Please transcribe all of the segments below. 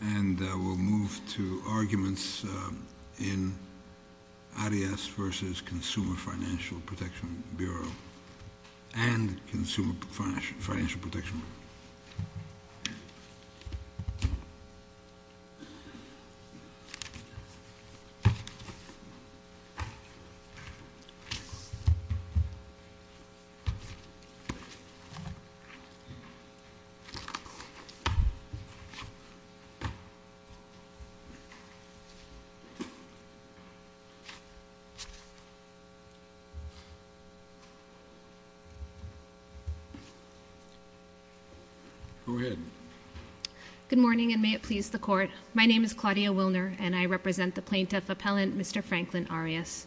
And we'll move to arguments in ADIAS v. Consumer Financial Protection Bureau and Consumer Financial Protection Bureau. Good morning, and may it please the Court. My name is Claudia Wilner, and I represent the Plaintiff Appellant, Mr. Franklin Arias.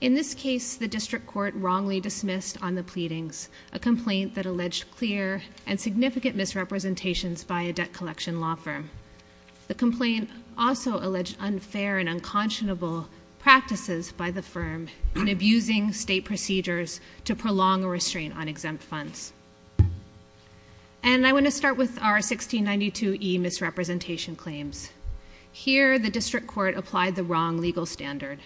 In this case, the District Court wrongly dismissed on the pleadings a complaint that alleged clear and significant misrepresentations by a debt collection law firm. The complaint also alleged unfair and unconscionable practices by the firm in abusing state procedures to prolong a restraint on exempt funds. And I want to start with our 1692e misrepresentation claims. Here, the District Court applied the wrong legal standard.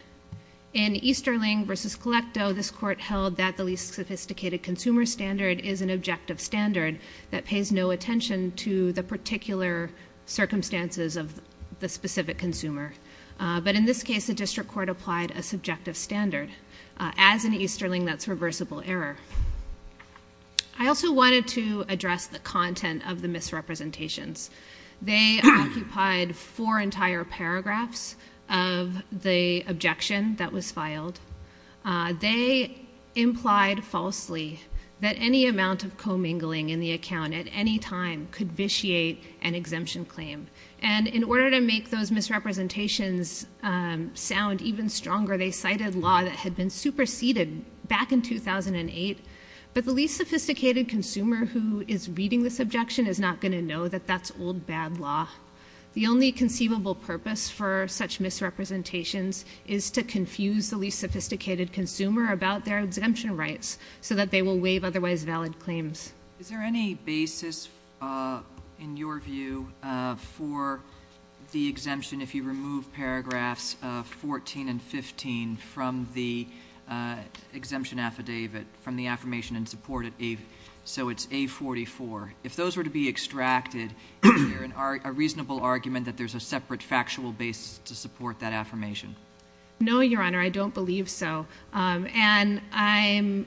In Easterling v. Colecto, this Court held that the least sophisticated consumer standard is an objective standard that pays no attention to the particular circumstances of the specific consumer. But in this case, the District Court applied a subjective standard. As in Easterling, that's reversible error. I also wanted to address the content of the misrepresentations. They occupied four entire paragraphs of the objection that was filed. They implied falsely that any amount of commingling in the account at any time could vitiate an exemption claim. And in order to make those misrepresentations sound even stronger, they cited law that had been superseded back in 2008. But the least sophisticated consumer who is reading this objection is not going to know that that's old, bad law. The only conceivable purpose for such misrepresentations is to confuse the least sophisticated consumer about their exemption rights so that they will waive otherwise valid claims. Is there any basis in your view for the exemption if you remove paragraphs 14 and 15 from the exemption affidavit, from the affirmation in support? So it's A44. If those were to be extracted, is there a reasonable argument that there's a separate factual basis to support that affirmation? No, Your Honor, I don't believe so. And I'm,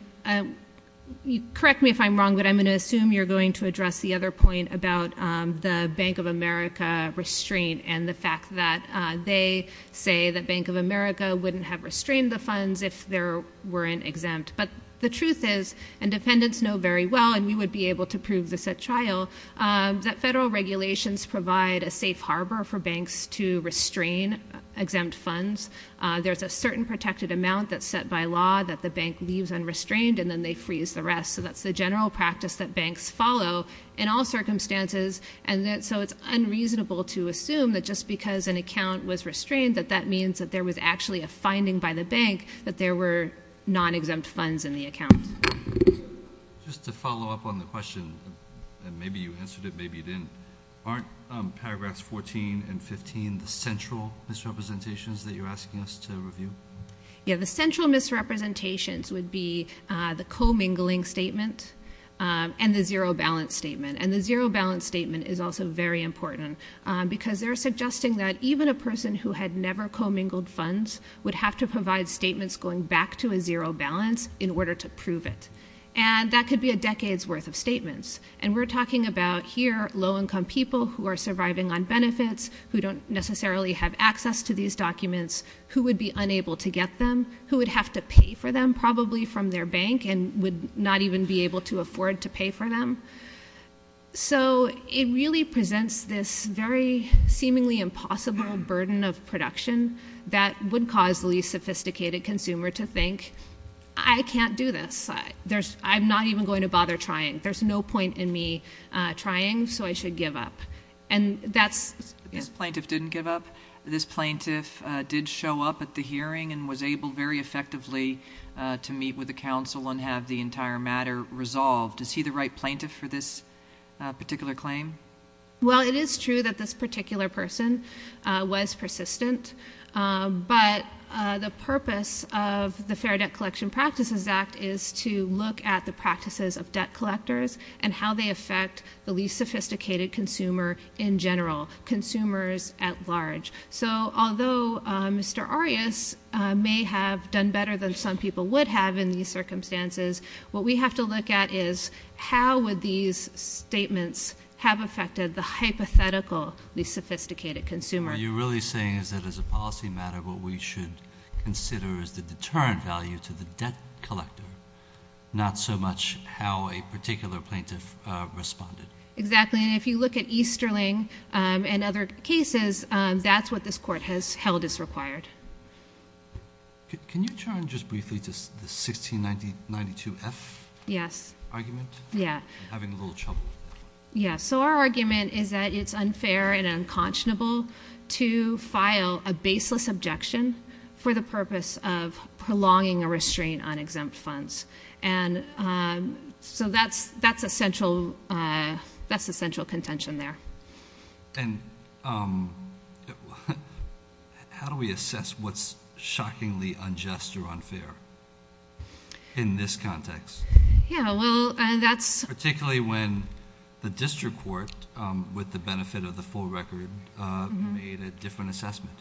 correct me if I'm wrong, but I'm going to assume you're going to address the other point about the Bank of America restraint and the fact that they say that Bank of America wouldn't have restrained the funds if there weren't exempt. But the truth is, and defendants know very well, and we would be able to prove this at trial, that federal regulations provide a safe harbor for banks to restrain exempt funds. There's a certain protected amount that's set by law that the bank leaves unrestrained and then they freeze the rest. So that's the general practice that banks follow in all circumstances. And so it's unreasonable to assume that just because an account was restrained, that that means that there was actually a finding by the bank that there were non-exempt funds in the account. Just to follow up on the question, and maybe you answered it, maybe you didn't, aren't paragraphs 14 and 15 the central misrepresentations that you're asking us to review? Yeah, the central misrepresentations would be the commingling statement and the zero balance statement. And the zero balance statement is also very important because they're suggesting that even a person who had never commingled funds would have to provide statements going back to a zero balance in order to prove it. And that could be a decade's worth of statements. And we're talking about here low-income people who are surviving on benefits, who don't necessarily have access to these documents, who would be unable to get them, who would have to pay for them probably from their bank and would not even be able to afford to pay for them. So it really presents this very seemingly impossible burden of production that would cause the least sophisticated consumer to think, I can't do this. I'm not even going to bother trying. There's no point in me trying, so I should give up. And that's— This plaintiff didn't give up. This plaintiff did show up at the hearing and was able very effectively to meet with the counsel and have the entire matter resolved. Is he the right plaintiff for this particular claim? Well, it is true that this particular person was persistent, but the purpose of the Fair Debt Collection Practices Act is to look at the practices of debt collectors and how they affect the least sophisticated consumer in general, consumers at large. So although Mr. Arias may have done better than some people would have in these circumstances, what we have to look at is, how would these statements have affected the hypothetically least sophisticated consumer? What you're really saying is that as a policy matter, what we should consider is the deterrent value to the debt collector, not so much how a particular plaintiff responded. Exactly. And if you look at Easterling and other cases, that's what this Court has held is required. Can you turn just briefly to the 1692F argument? Yes. I'm having a little trouble with that. Yeah. So our argument is that it's unfair and unconscionable to file a baseless objection for the purpose of prolonging a restraint on exempt funds. And so that's a central contention there. And how do we assess what's shockingly unjust or unfair in this context? Yeah. Well, that's— Particularly when the district court, with the benefit of the full record, made a different assessment.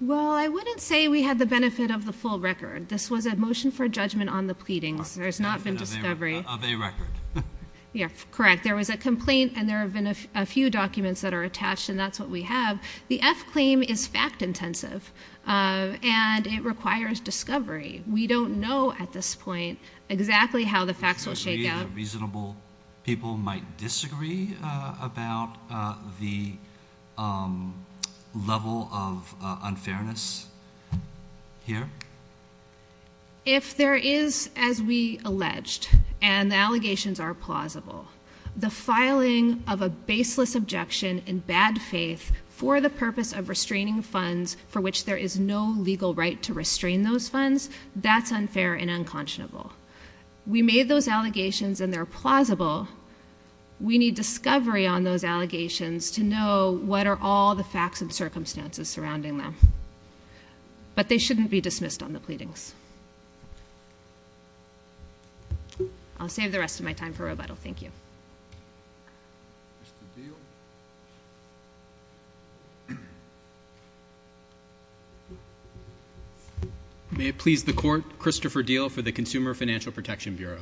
Well, I wouldn't say we had the benefit of the full record. This was a motion for judgment on the pleadings. There's not been discovery. Of a record. Yeah. Correct. There was a complaint, and there have been a few documents that are attached, and that's what we have. The F claim is fact-intensive, and it requires discovery. We don't know at this point exactly how the facts will shake out. Do you agree that reasonable people might disagree about the level of unfairness here? If there is, as we alleged, and the allegations are plausible, the filing of a baseless objection in bad faith for the purpose of restraining funds for which there is no legal right to restrain those funds, that's unfair and unconscionable. We made those allegations, and they're plausible. We need discovery on those allegations to know what are all the facts and circumstances surrounding them. But they shouldn't be dismissed on the pleadings. I'll save the rest of my time for rebuttal. Thank you. May it please the Court, Christopher Diehl for the Consumer Financial Protection Bureau.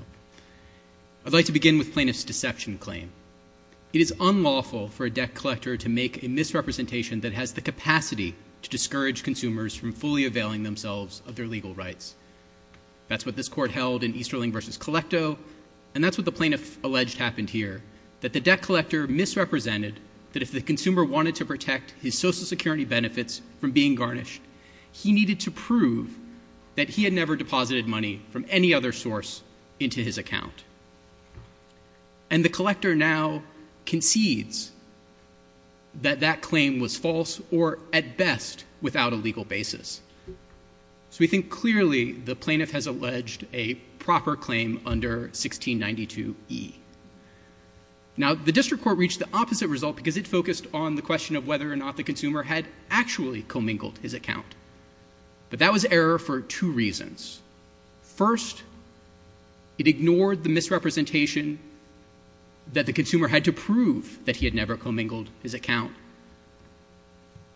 I'd like to begin with plaintiff's deception claim. It is unlawful for a debt collector to make a misrepresentation that has the capacity to discourage consumers from fully availing themselves of their legal rights. That's what this Court held in Easterling v. Colecto, and that's what the plaintiff alleged happened here, that the debt collector misrepresented that if the consumer wanted to protect his Social Security benefits from being garnished, he needed to prove that he had never deposited money from any other source into his account. And the collector now concedes that that claim was false or, at best, without a legal basis. So we think clearly the plaintiff has alleged a proper claim under 1692e. Now, the district court reached the opposite result because it focused on the question of whether or not the consumer had actually commingled his account. But that was error for two reasons. First, it ignored the misrepresentation that the consumer had to prove that he had never commingled his account,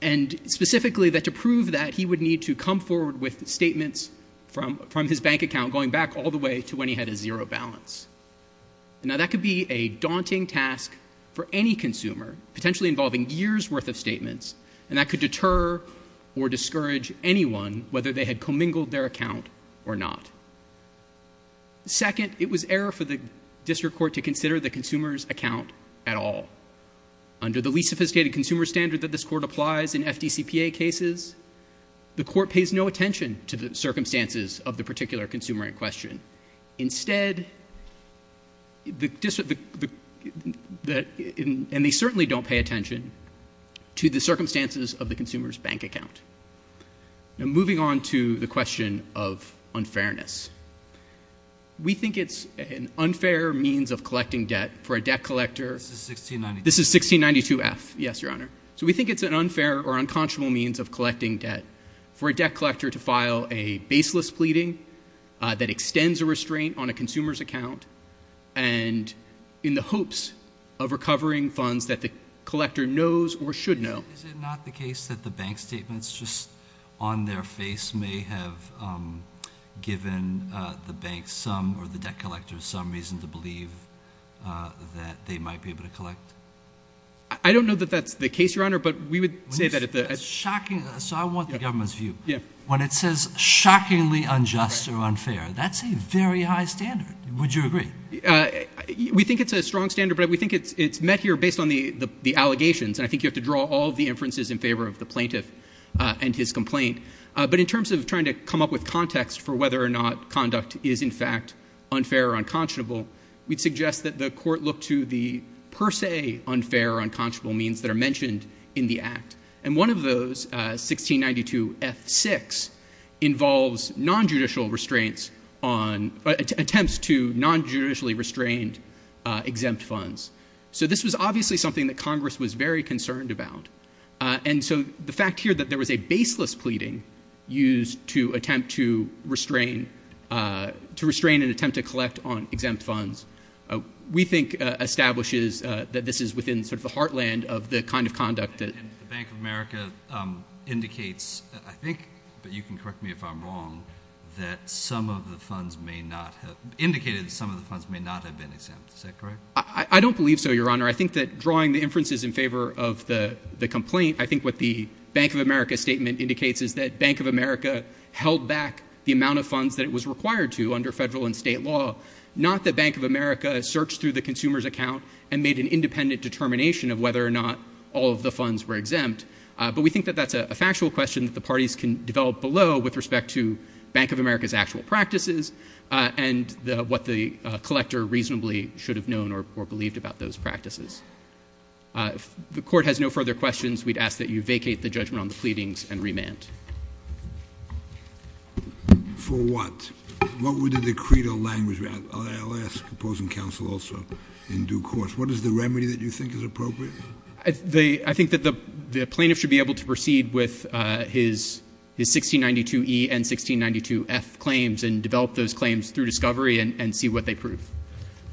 and specifically that to prove that, he would need to come forward with statements from his bank account going back all the way to when he had a zero balance. Now, that could be a daunting task for any consumer, potentially involving years' worth of statements, and that could deter or discourage anyone, whether they had commingled their account or not. Second, it was error for the district court to consider the consumer's account at all. Under the least sophisticated consumer standard that this court applies in FDCPA cases, the court pays no attention to the circumstances of the particular consumer in question. Instead, the district, and they certainly don't pay attention to the circumstances of the consumer's bank account. Now, moving on to the question of unfairness. We think it's an unfair means of collecting debt for a debt collector. This is 1692. This is 1692F. Yes, Your Honor. So we think it's an unfair or unconscionable means of collecting debt for a debt collector to file a baseless pleading that extends a restraint on a consumer's account, and in the hopes of recovering funds that the collector knows or should know. Is it not the case that the bank statements just on their face may have given the bank some or the debt collector some reason to believe that they might be able to collect? I don't know that that's the case, Your Honor, but we would say that at the… So I want the government's view. When it says shockingly unjust or unfair, that's a very high standard. Would you agree? We think it's a strong standard, but we think it's met here based on the allegations, and I think you have to draw all the inferences in favor of the plaintiff and his complaint. But in terms of trying to come up with context for whether or not conduct is, in fact, unfair or unconscionable, we'd suggest that the court look to the per se unfair or unconscionable means that are mentioned in the Act. And one of those, 1692F6, involves nonjudicial restraints on… attempts to nonjudicially restrain exempt funds. So this was obviously something that Congress was very concerned about. And so the fact here that there was a baseless pleading used to attempt to restrain an attempt to collect on exempt funds we think establishes that this is within sort of the heartland of the kind of conduct that… And the Bank of America indicates, I think, but you can correct me if I'm wrong, that some of the funds may not have been exempt. Is that correct? I don't believe so, Your Honor. I think that drawing the inferences in favor of the complaint, I think what the Bank of America statement indicates is that Bank of America held back the amount of funds that it was required to under federal and state law, not that Bank of America searched through the consumer's account and made an independent determination of whether or not all of the funds were exempt. But we think that that's a factual question that the parties can develop below with respect to Bank of America's actual practices and what the collector reasonably should have known or believed about those practices. If the Court has no further questions, we'd ask that you vacate the judgment on the pleadings and remand. For what? What would the decreed or language be? I'll ask opposing counsel also in due course. What is the remedy that you think is appropriate? I think that the plaintiff should be able to proceed with his 1692E and 1692F claims and develop those claims through discovery and see what they prove.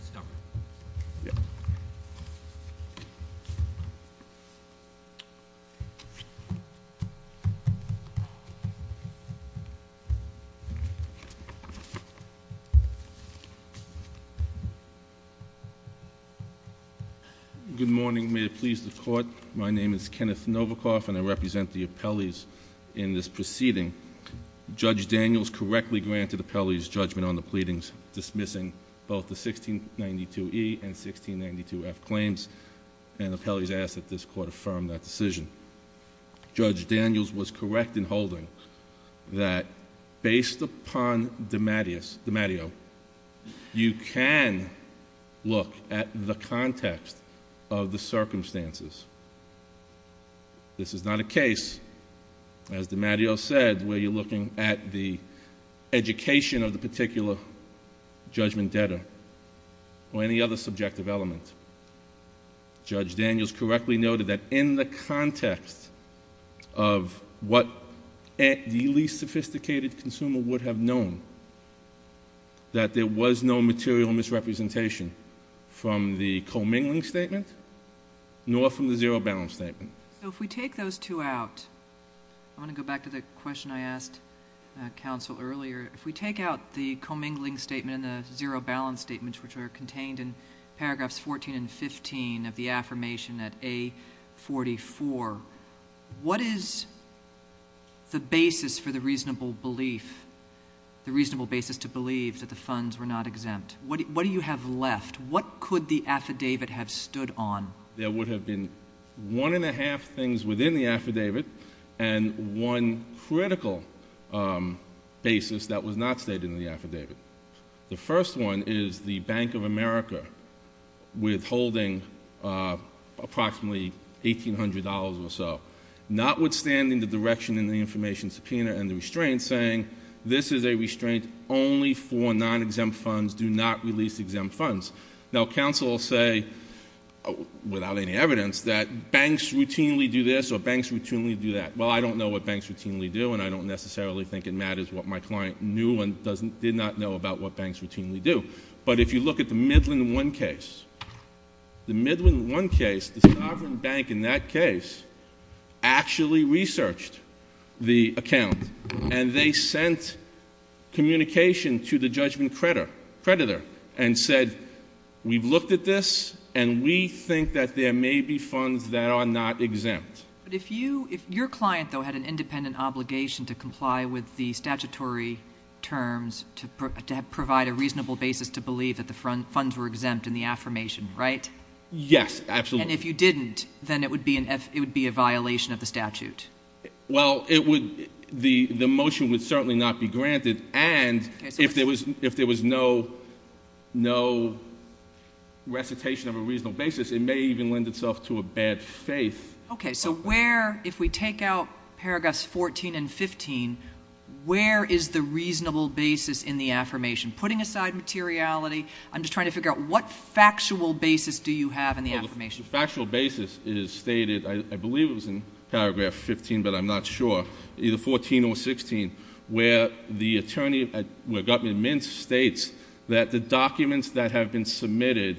Stop. Good morning. May it please the Court. My name is Kenneth Novikoff and I represent the appellees in this proceeding. Judge Daniels correctly granted appellees judgment on the pleadings dismissing both the 1692E and 1692F claims and appellees ask that this Court affirm that decision. Judge Daniels was correct in holding that based upon DiMatteo, you can look at the context of the circumstances. This is not a case, as DiMatteo said, where you're looking at the education of the particular judgment debtor or any other subjective element. Judge Daniels correctly noted that in the context of what the least sophisticated consumer would have known, that there was no material misrepresentation from the commingling statement nor from the zero-balance statement. So if we take those two out, I want to go back to the question I asked counsel earlier. If we take out the commingling statement and the zero-balance statement, which are contained in paragraphs 14 and 15 of the affirmation at A44, what is the basis for the reasonable belief, the reasonable basis to believe that the funds were not exempt? What do you have left? What could the affidavit have stood on? There would have been one and a half things within the affidavit and one critical basis that was not stated in the affidavit. The first one is the Bank of America withholding approximately $1,800 or so, notwithstanding the direction in the information subpoena and the restraints saying, this is a restraint only for non-exempt funds, do not release exempt funds. Now counsel will say, without any evidence, that banks routinely do this or banks routinely do that. Well, I don't know what banks routinely do and I don't necessarily think it matters what my client knew and did not know about what banks routinely do. But if you look at the Midland One case, the Midland One case, the sovereign bank in that case actually researched the account and they sent communication to the judgment creditor and said, we've looked at this and we think that there may be funds that are not exempt. But if your client, though, had an independent obligation to comply with the statutory terms to provide a reasonable basis to believe that the funds were exempt in the affirmation, right? Yes, absolutely. And if you didn't, then it would be a violation of the statute. Well, the motion would certainly not be granted and if there was no recitation of a reasonable basis, it may even lend itself to a bad faith. Okay, so where, if we take out paragraphs 14 and 15, where is the reasonable basis in the affirmation? Putting aside materiality, I'm just trying to figure out what factual basis do you have in the affirmation? Well, the factual basis is stated, I believe it was in paragraph 15, but I'm not sure, either 14 or 16, where the attorney, where Gutman-Mintz states that the documents that have been submitted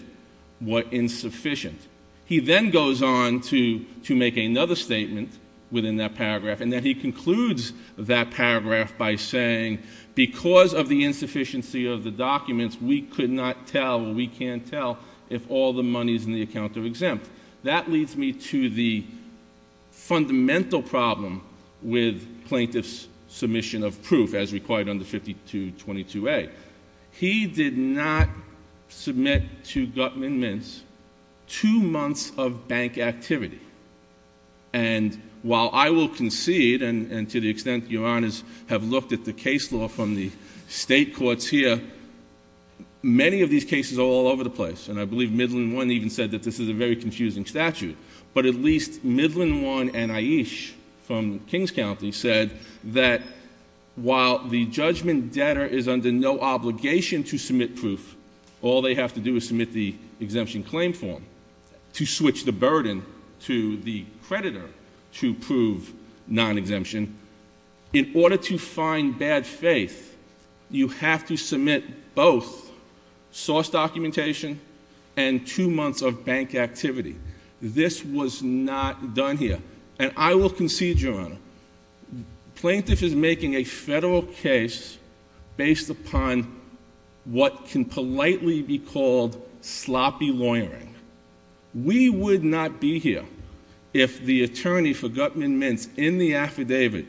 were insufficient. He then goes on to make another statement within that paragraph and then he concludes that paragraph by saying, because of the insufficiency of the documents, we could not tell or we can't tell if all the money is in the account of exempt. That leads me to the fundamental problem with plaintiff's submission of proof as required under 5222A. He did not submit to Gutman-Mintz two months of bank activity. And while I will concede, and to the extent your honors have looked at the case law from the state courts here, many of these cases are all over the place. And I believe Midland One even said that this is a very confusing statute. But at least Midland One and Aish from Kings County said that while the judgment debtor is under no obligation to submit proof, all they have to do is submit the exemption claim form to switch the burden to the creditor to prove non-exemption. In order to find bad faith, you have to submit both source documentation and two months of bank activity. This was not done here. And I will concede, your honor, plaintiff is making a federal case based upon what can politely be called sloppy lawyering. We would not be here if the attorney for Gutman-Mintz in the affidavit,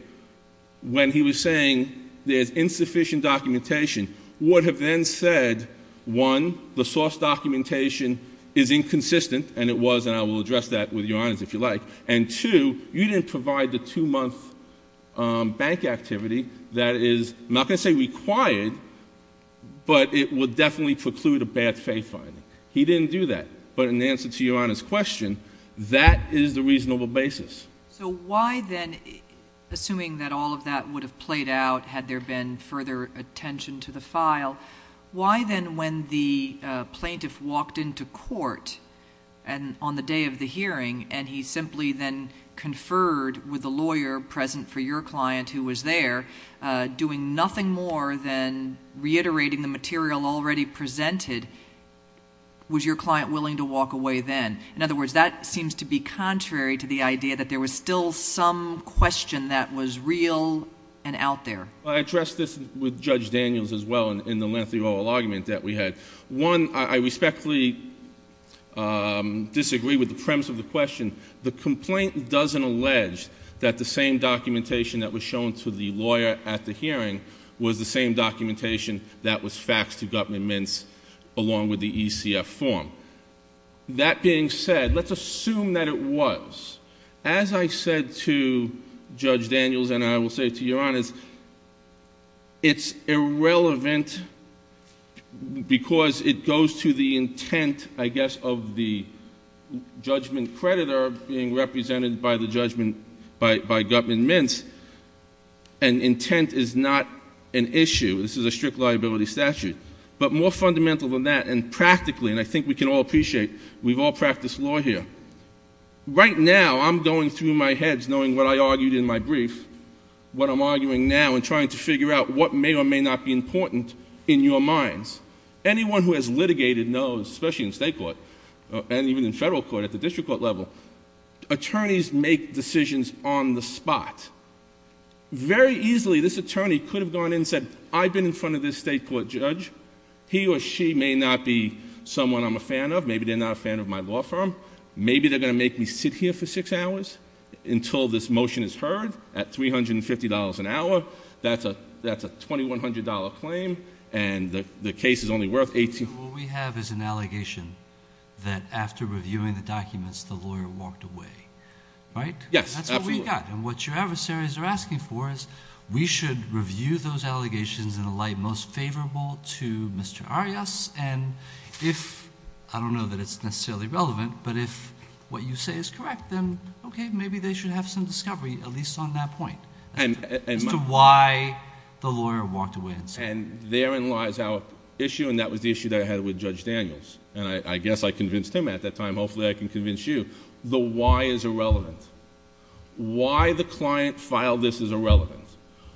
when he was saying there's insufficient documentation, would have then said, one, the source documentation is inconsistent, and it was, and I will address that with your honors if you like. And two, you didn't provide the two month bank activity that is, I'm not going to say required, but it would definitely preclude a bad faith finding. He didn't do that. But in answer to your honors question, that is the reasonable basis. So why then, assuming that all of that would have played out had there been further attention to the file, why then when the plaintiff walked into court on the day of the hearing, and he simply then conferred with a lawyer present for your client who was there, doing nothing more than reiterating the material already presented, was your client willing to walk away then? In other words, that seems to be contrary to the idea that there was still some question that was real and out there. I addressed this with Judge Daniels as well in the lengthy oral argument that we had. One, I respectfully disagree with the premise of the question. The complaint doesn't allege that the same documentation that was shown to the lawyer at the hearing was the same documentation that was faxed to Gutman-Mintz along with the ECF form. That being said, let's assume that it was. As I said to Judge Daniels, and I will say to your honors, it's irrelevant because it goes to the intent, I guess, of the judgment creditor being represented by the judgment by Gutman-Mintz. And intent is not an issue. This is a strict liability statute. But more fundamental than that, and practically, and I think we can all appreciate, we've all practiced law here. Right now, I'm going through my heads knowing what I argued in my brief, what I'm arguing now and trying to figure out what may or may not be important in your minds. Anyone who has litigated knows, especially in state court, and even in federal court at the district court level, attorneys make decisions on the spot. Very easily, this attorney could have gone in and said, I've been in front of this state court judge. He or she may not be someone I'm a fan of. Maybe they're not a fan of my law firm. Maybe they're going to make me sit here for six hours until this motion is heard at $350 an hour. That's a $2,100 claim, and the case is only worth $1,800. What we have is an allegation that after reviewing the documents, the lawyer walked away, right? Yes, absolutely. And what your adversaries are asking for is we should review those allegations in a light most favorable to Mr. Arias, and if, I don't know that it's necessarily relevant, but if what you say is correct, then okay, maybe they should have some discovery, at least on that point, as to why the lawyer walked away and said that. And therein lies our issue, and that was the issue that I had with Judge Daniels, and I guess I convinced him at that time. Hopefully, I can convince you. The why is irrelevant. Why the client filed this is irrelevant.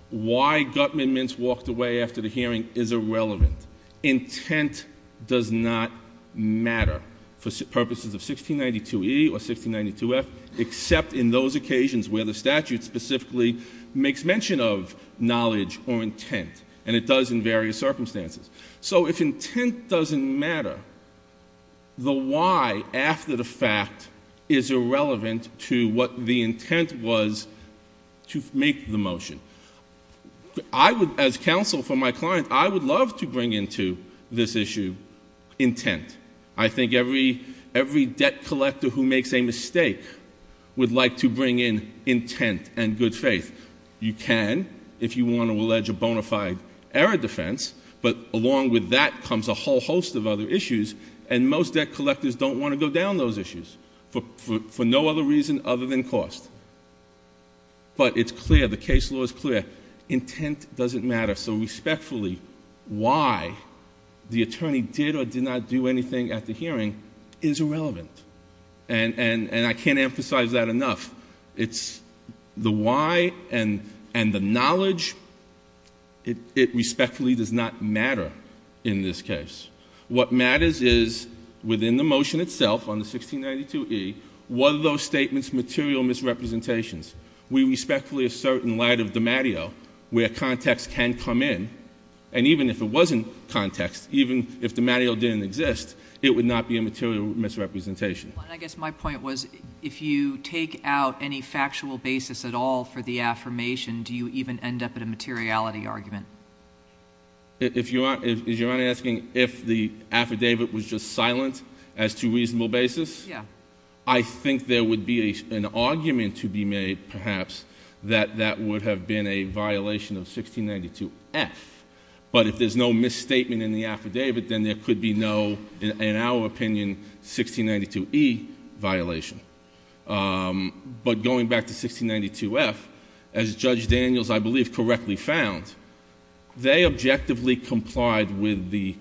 Why Gutman-Mintz walked away after the hearing is irrelevant. Intent does not matter for purposes of 1692E or 1692F, except in those occasions where the statute specifically makes mention of knowledge or intent, and it does in various circumstances. So if intent doesn't matter, the why after the fact is irrelevant to what the intent was to make the motion. I would, as counsel for my client, I would love to bring into this issue intent. I think every debt collector who makes a mistake would like to bring in intent and good faith. You can if you want to allege a bona fide error defense, but along with that comes a whole host of other issues, and most debt collectors don't want to go down those issues for no other reason other than cost. But it's clear. The case law is clear. Intent doesn't matter. So respectfully, why the attorney did or did not do anything at the hearing is irrelevant, and I can't emphasize that enough. It's the why and the knowledge. It respectfully does not matter in this case. What matters is within the motion itself on the 1692E, were those statements material misrepresentations? We respectfully assert in light of the mateo where context can come in, and even if it wasn't context, even if the mateo didn't exist, it would not be a material misrepresentation. I guess my point was, if you take out any factual basis at all for the affirmation, do you even end up at a materiality argument? If you're asking if the affidavit was just silent as to reasonable basis? Yeah. I think there would be an argument to be made, perhaps, that that would have been a violation of 1692F. But if there's no misstatement in the affidavit, then there could be no, in our opinion, 1692E violation. But going back to 1692F, as Judge Daniels, I believe, correctly found, they objectively complied with the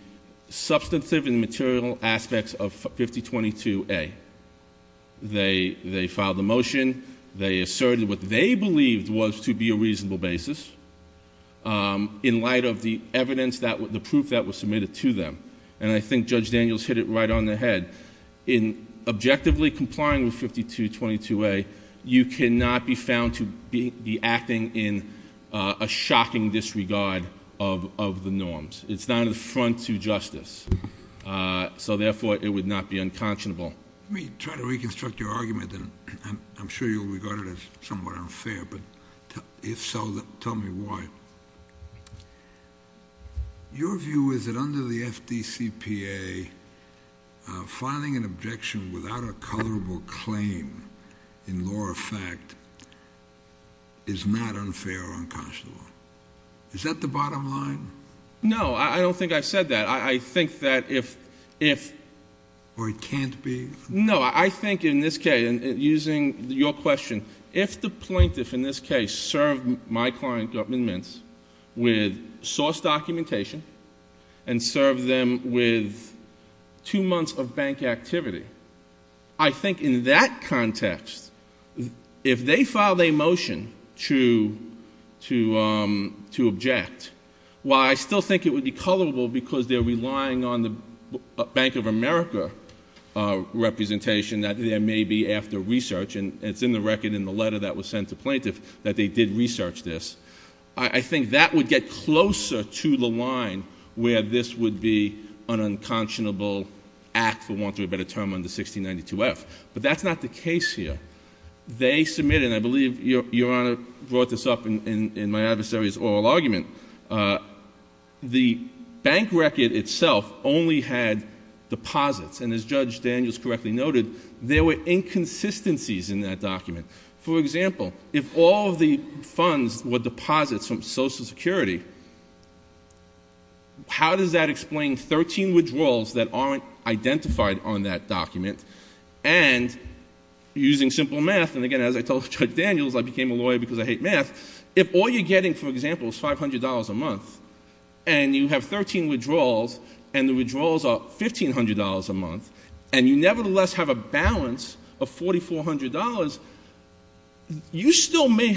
substantive and material aspects of 5022A. They filed the motion. They asserted what they believed was to be a reasonable basis. In light of the evidence, the proof that was submitted to them. And I think Judge Daniels hit it right on the head. In objectively complying with 5022A, you cannot be found to be acting in a shocking disregard of the norms. It's not an affront to justice. So, therefore, it would not be unconscionable. Let me try to reconstruct your argument, and I'm sure you'll regard it as somewhat unfair. But if so, tell me why. Your view is that under the FDCPA, filing an objection without a colorable claim in law or fact is not unfair or unconscionable. Is that the bottom line? No, I don't think I've said that. I think that if- Or it can't be? No, I think in this case, using your question, if the plaintiff in this case served my client, Gutman Mintz, with source documentation and served them with two months of bank activity, I think in that context, if they filed a motion to object, while I still think it would be colorable because they're relying on the Bank of America representation that there may be after research, and it's in the record in the letter that was sent to plaintiff that they did research this, I think that would get closer to the line where this would be an unconscionable act, for want of a better term, under 1692F. But that's not the case here. They submitted, and I believe Your Honor brought this up in my adversary's oral argument, the bank record itself only had deposits. And as Judge Daniels correctly noted, there were inconsistencies in that document. For example, if all of the funds were deposits from Social Security, how does that explain 13 withdrawals that aren't identified on that document, and using simple math, and again, as I told Judge Daniels, I became a lawyer because I hate math, if all you're getting, for example, is $500 a month, and you have 13 withdrawals, and the withdrawals are $1,500 a month, and you nevertheless have a balance of $4,400, you still may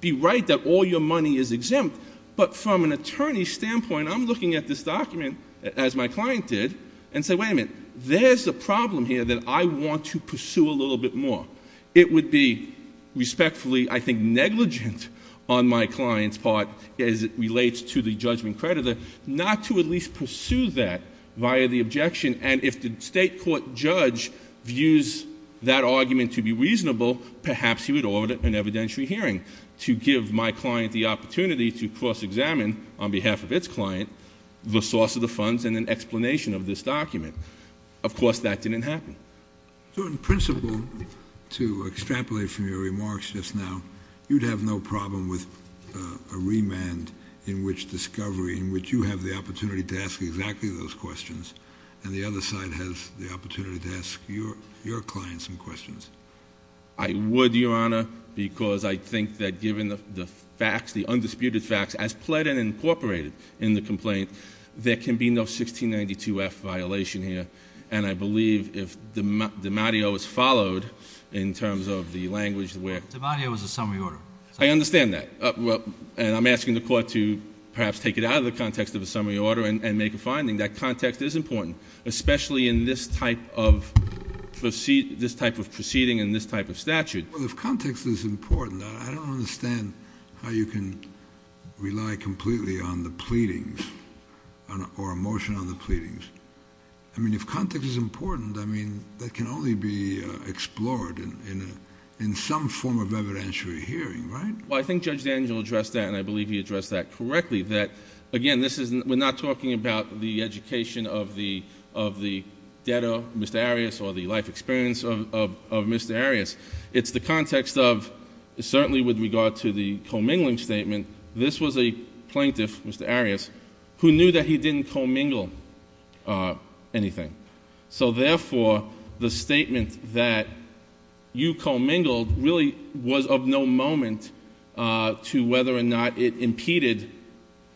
be right that all your money is exempt, but from an attorney's standpoint, I'm looking at this document, as my client did, and say, wait a minute, there's a problem here that I want to pursue a little bit more. It would be respectfully, I think, negligent on my client's part as it relates to the judgment creditor not to at least pursue that via the objection, and if the state court judge views that argument to be reasonable, perhaps he would order an evidentiary hearing to give my client the opportunity to cross-examine, on behalf of its client, the source of the funds and an explanation of this document. Of course, that didn't happen. So in principle, to extrapolate from your remarks just now, you'd have no problem with a remand in which discovery, in which you have the opportunity to ask exactly those questions, and the other side has the opportunity to ask your client some questions. I would, Your Honor, because I think that given the facts, the undisputed facts, as pled and incorporated in the complaint, there can be no 1692-F violation here, and I believe if DiMatteo is followed, in terms of the language where... DiMatteo was a summary order. I understand that, and I'm asking the court to perhaps take it out of the context of a summary order and make a finding. That context is important, especially in this type of proceeding and this type of statute. Well, if context is important, I don't understand how you can rely completely on the pleadings or a motion on the pleadings. I mean, if context is important, I mean, that can only be explored in some form of evidentiary hearing, right? Well, I think Judge Daniel addressed that, and I believe he addressed that correctly, that, again, we're not talking about the education of the debtor, Mr. Arias, or the life experience of Mr. Arias. It's the context of, certainly with regard to the commingling statement, this was a plaintiff, Mr. Arias, who knew that he didn't commingle anything. So, therefore, the statement that you commingled really was of no moment to whether or not it impeded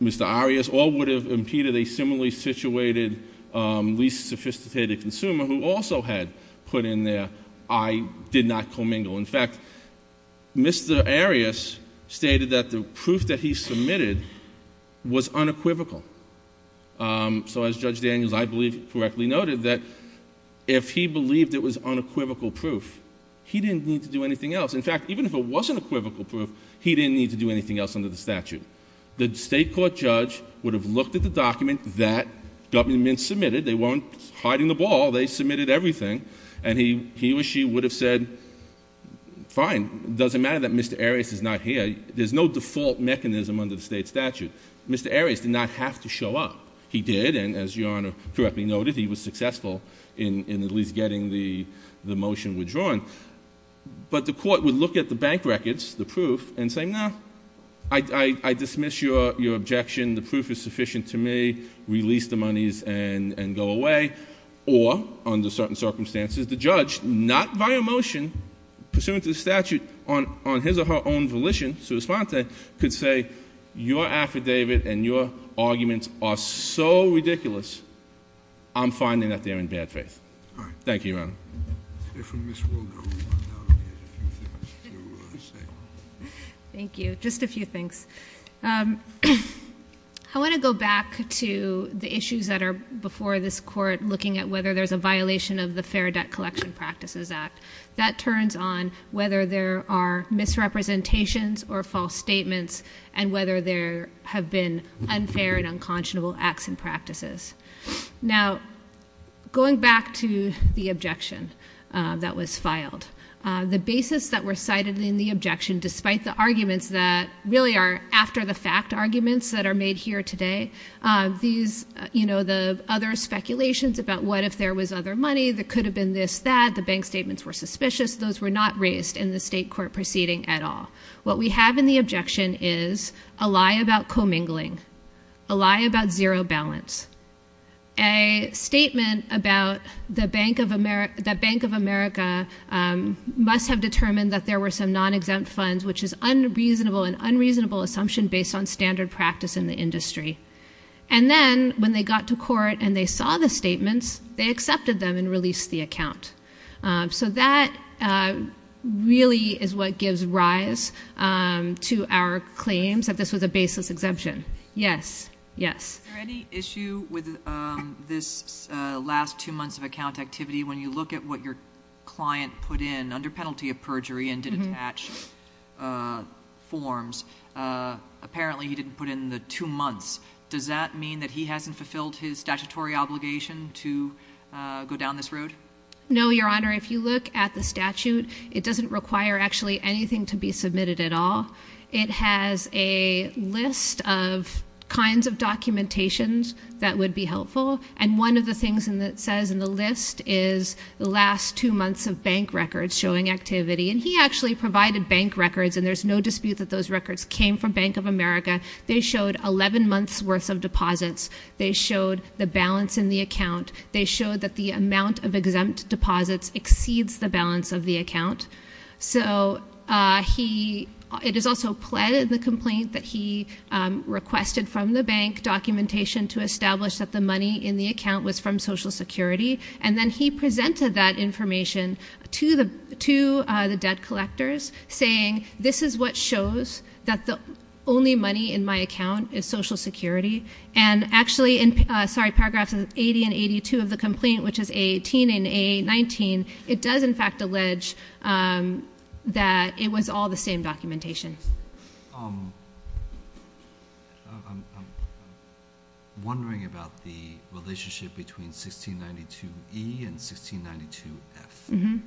Mr. Arias or would have impeded a similarly situated, least sophisticated consumer who also had put in there, I did not commingle. In fact, Mr. Arias stated that the proof that he submitted was unequivocal. So, as Judge Daniels, I believe, correctly noted that if he believed it was unequivocal proof, he didn't need to do anything else. In fact, even if it wasn't equivocal proof, he didn't need to do anything else under the statute. The state court judge would have looked at the document that government submitted. They weren't hiding the ball. They submitted everything, and he or she would have said, fine, it doesn't matter that Mr. Arias is not here. There's no default mechanism under the state statute. Mr. Arias did not have to show up. He did, and as Your Honor correctly noted, he was successful in at least getting the motion withdrawn. But the court would look at the bank records, the proof, and say, no, I dismiss your objection. The proof is sufficient to me. Release the monies and go away. Or, under certain circumstances, the judge, not by a motion, pursuant to the statute on his or her own volition, sui sponte, could say, your affidavit and your arguments are so ridiculous, I'm finding that they're in bad faith. Thank you, Your Honor. Thank you. Just a few things. I want to go back to the issues that are before this court, looking at whether there's a violation of the Fair Debt Collection Practices Act. That turns on whether there are misrepresentations or false statements and whether there have been unfair and unconscionable acts and practices. Now, going back to the objection that was filed, the basis that were cited in the objection, despite the arguments that really are after-the-fact arguments that are made here today, these, you know, the other speculations about what if there was other money, there could have been this, that, the bank statements were suspicious. Those were not raised in the state court proceeding at all. What we have in the objection is a lie about commingling, a lie about zero balance, a statement about the Bank of America must have determined that there were some non-exempt funds, which is unreasonable, an unreasonable assumption based on standard practice in the industry. And then when they got to court and they saw the statements, they accepted them and released the account. So that really is what gives rise to our claims that this was a baseless exemption. Yes. Yes. Is there any issue with this last two months of account activity? When you look at what your client put in under penalty of perjury and did attach forms, apparently he didn't put in the two months. Does that mean that he hasn't fulfilled his statutory obligation to go down this road? No, Your Honor. If you look at the statute, it doesn't require actually anything to be submitted at all. It has a list of kinds of documentations that would be helpful, and one of the things that it says in the list is the last two months of bank records showing activity. And he actually provided bank records, and there's no dispute that those records came from Bank of America. They showed 11 months' worth of deposits. They showed the balance in the account. They showed that the amount of exempt deposits exceeds the balance of the account. So it is also pled in the complaint that he requested from the bank documentation to establish that the money in the account was from Social Security, and then he presented that information to the debt collectors, saying this is what shows that the only money in my account is Social Security. And actually, sorry, paragraphs 80 and 82 of the complaint, which is A18 and A19, it does in fact allege that it was all the same documentation. I'm wondering about the relationship between 1692E and 1692F.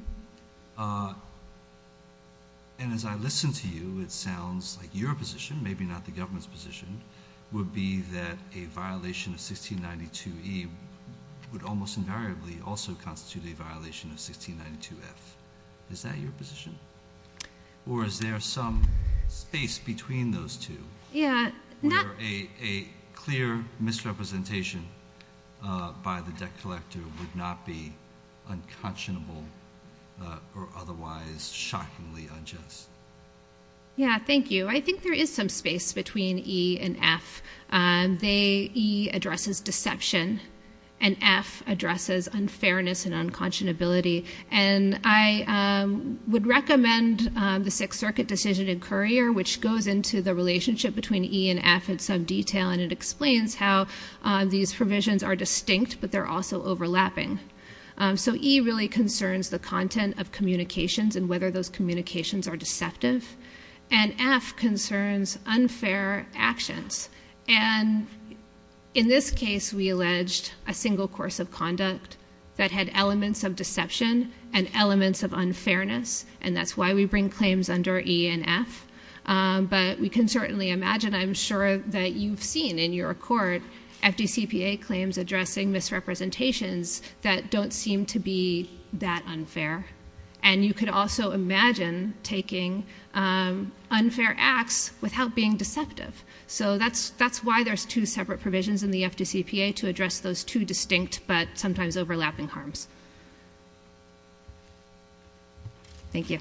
And as I listen to you, it sounds like your position, maybe not the government's position, would be that a violation of 1692E would almost invariably also constitute a violation of 1692F. Is that your position? Or is there some space between those two where a clear misrepresentation by the debt collector would not be unconscionable or otherwise shockingly unjust? Yeah, thank you. I think there is some space between E and F. E addresses deception, and F addresses unfairness and unconscionability. And I would recommend the Sixth Circuit decision in Currier, which goes into the relationship between E and F in some detail, and it explains how these provisions are distinct, but they're also overlapping. So E really concerns the content of communications and whether those communications are deceptive, and F concerns unfair actions. And in this case, we alleged a single course of conduct that had elements of deception and elements of unfairness, and that's why we bring claims under E and F. But we can certainly imagine, I'm sure that you've seen in your court, FDCPA claims addressing misrepresentations that don't seem to be that unfair. And you could also imagine taking unfair acts without being deceptive. So that's why there's two separate provisions in the FDCPA to address those two distinct but sometimes overlapping harms. Thank you.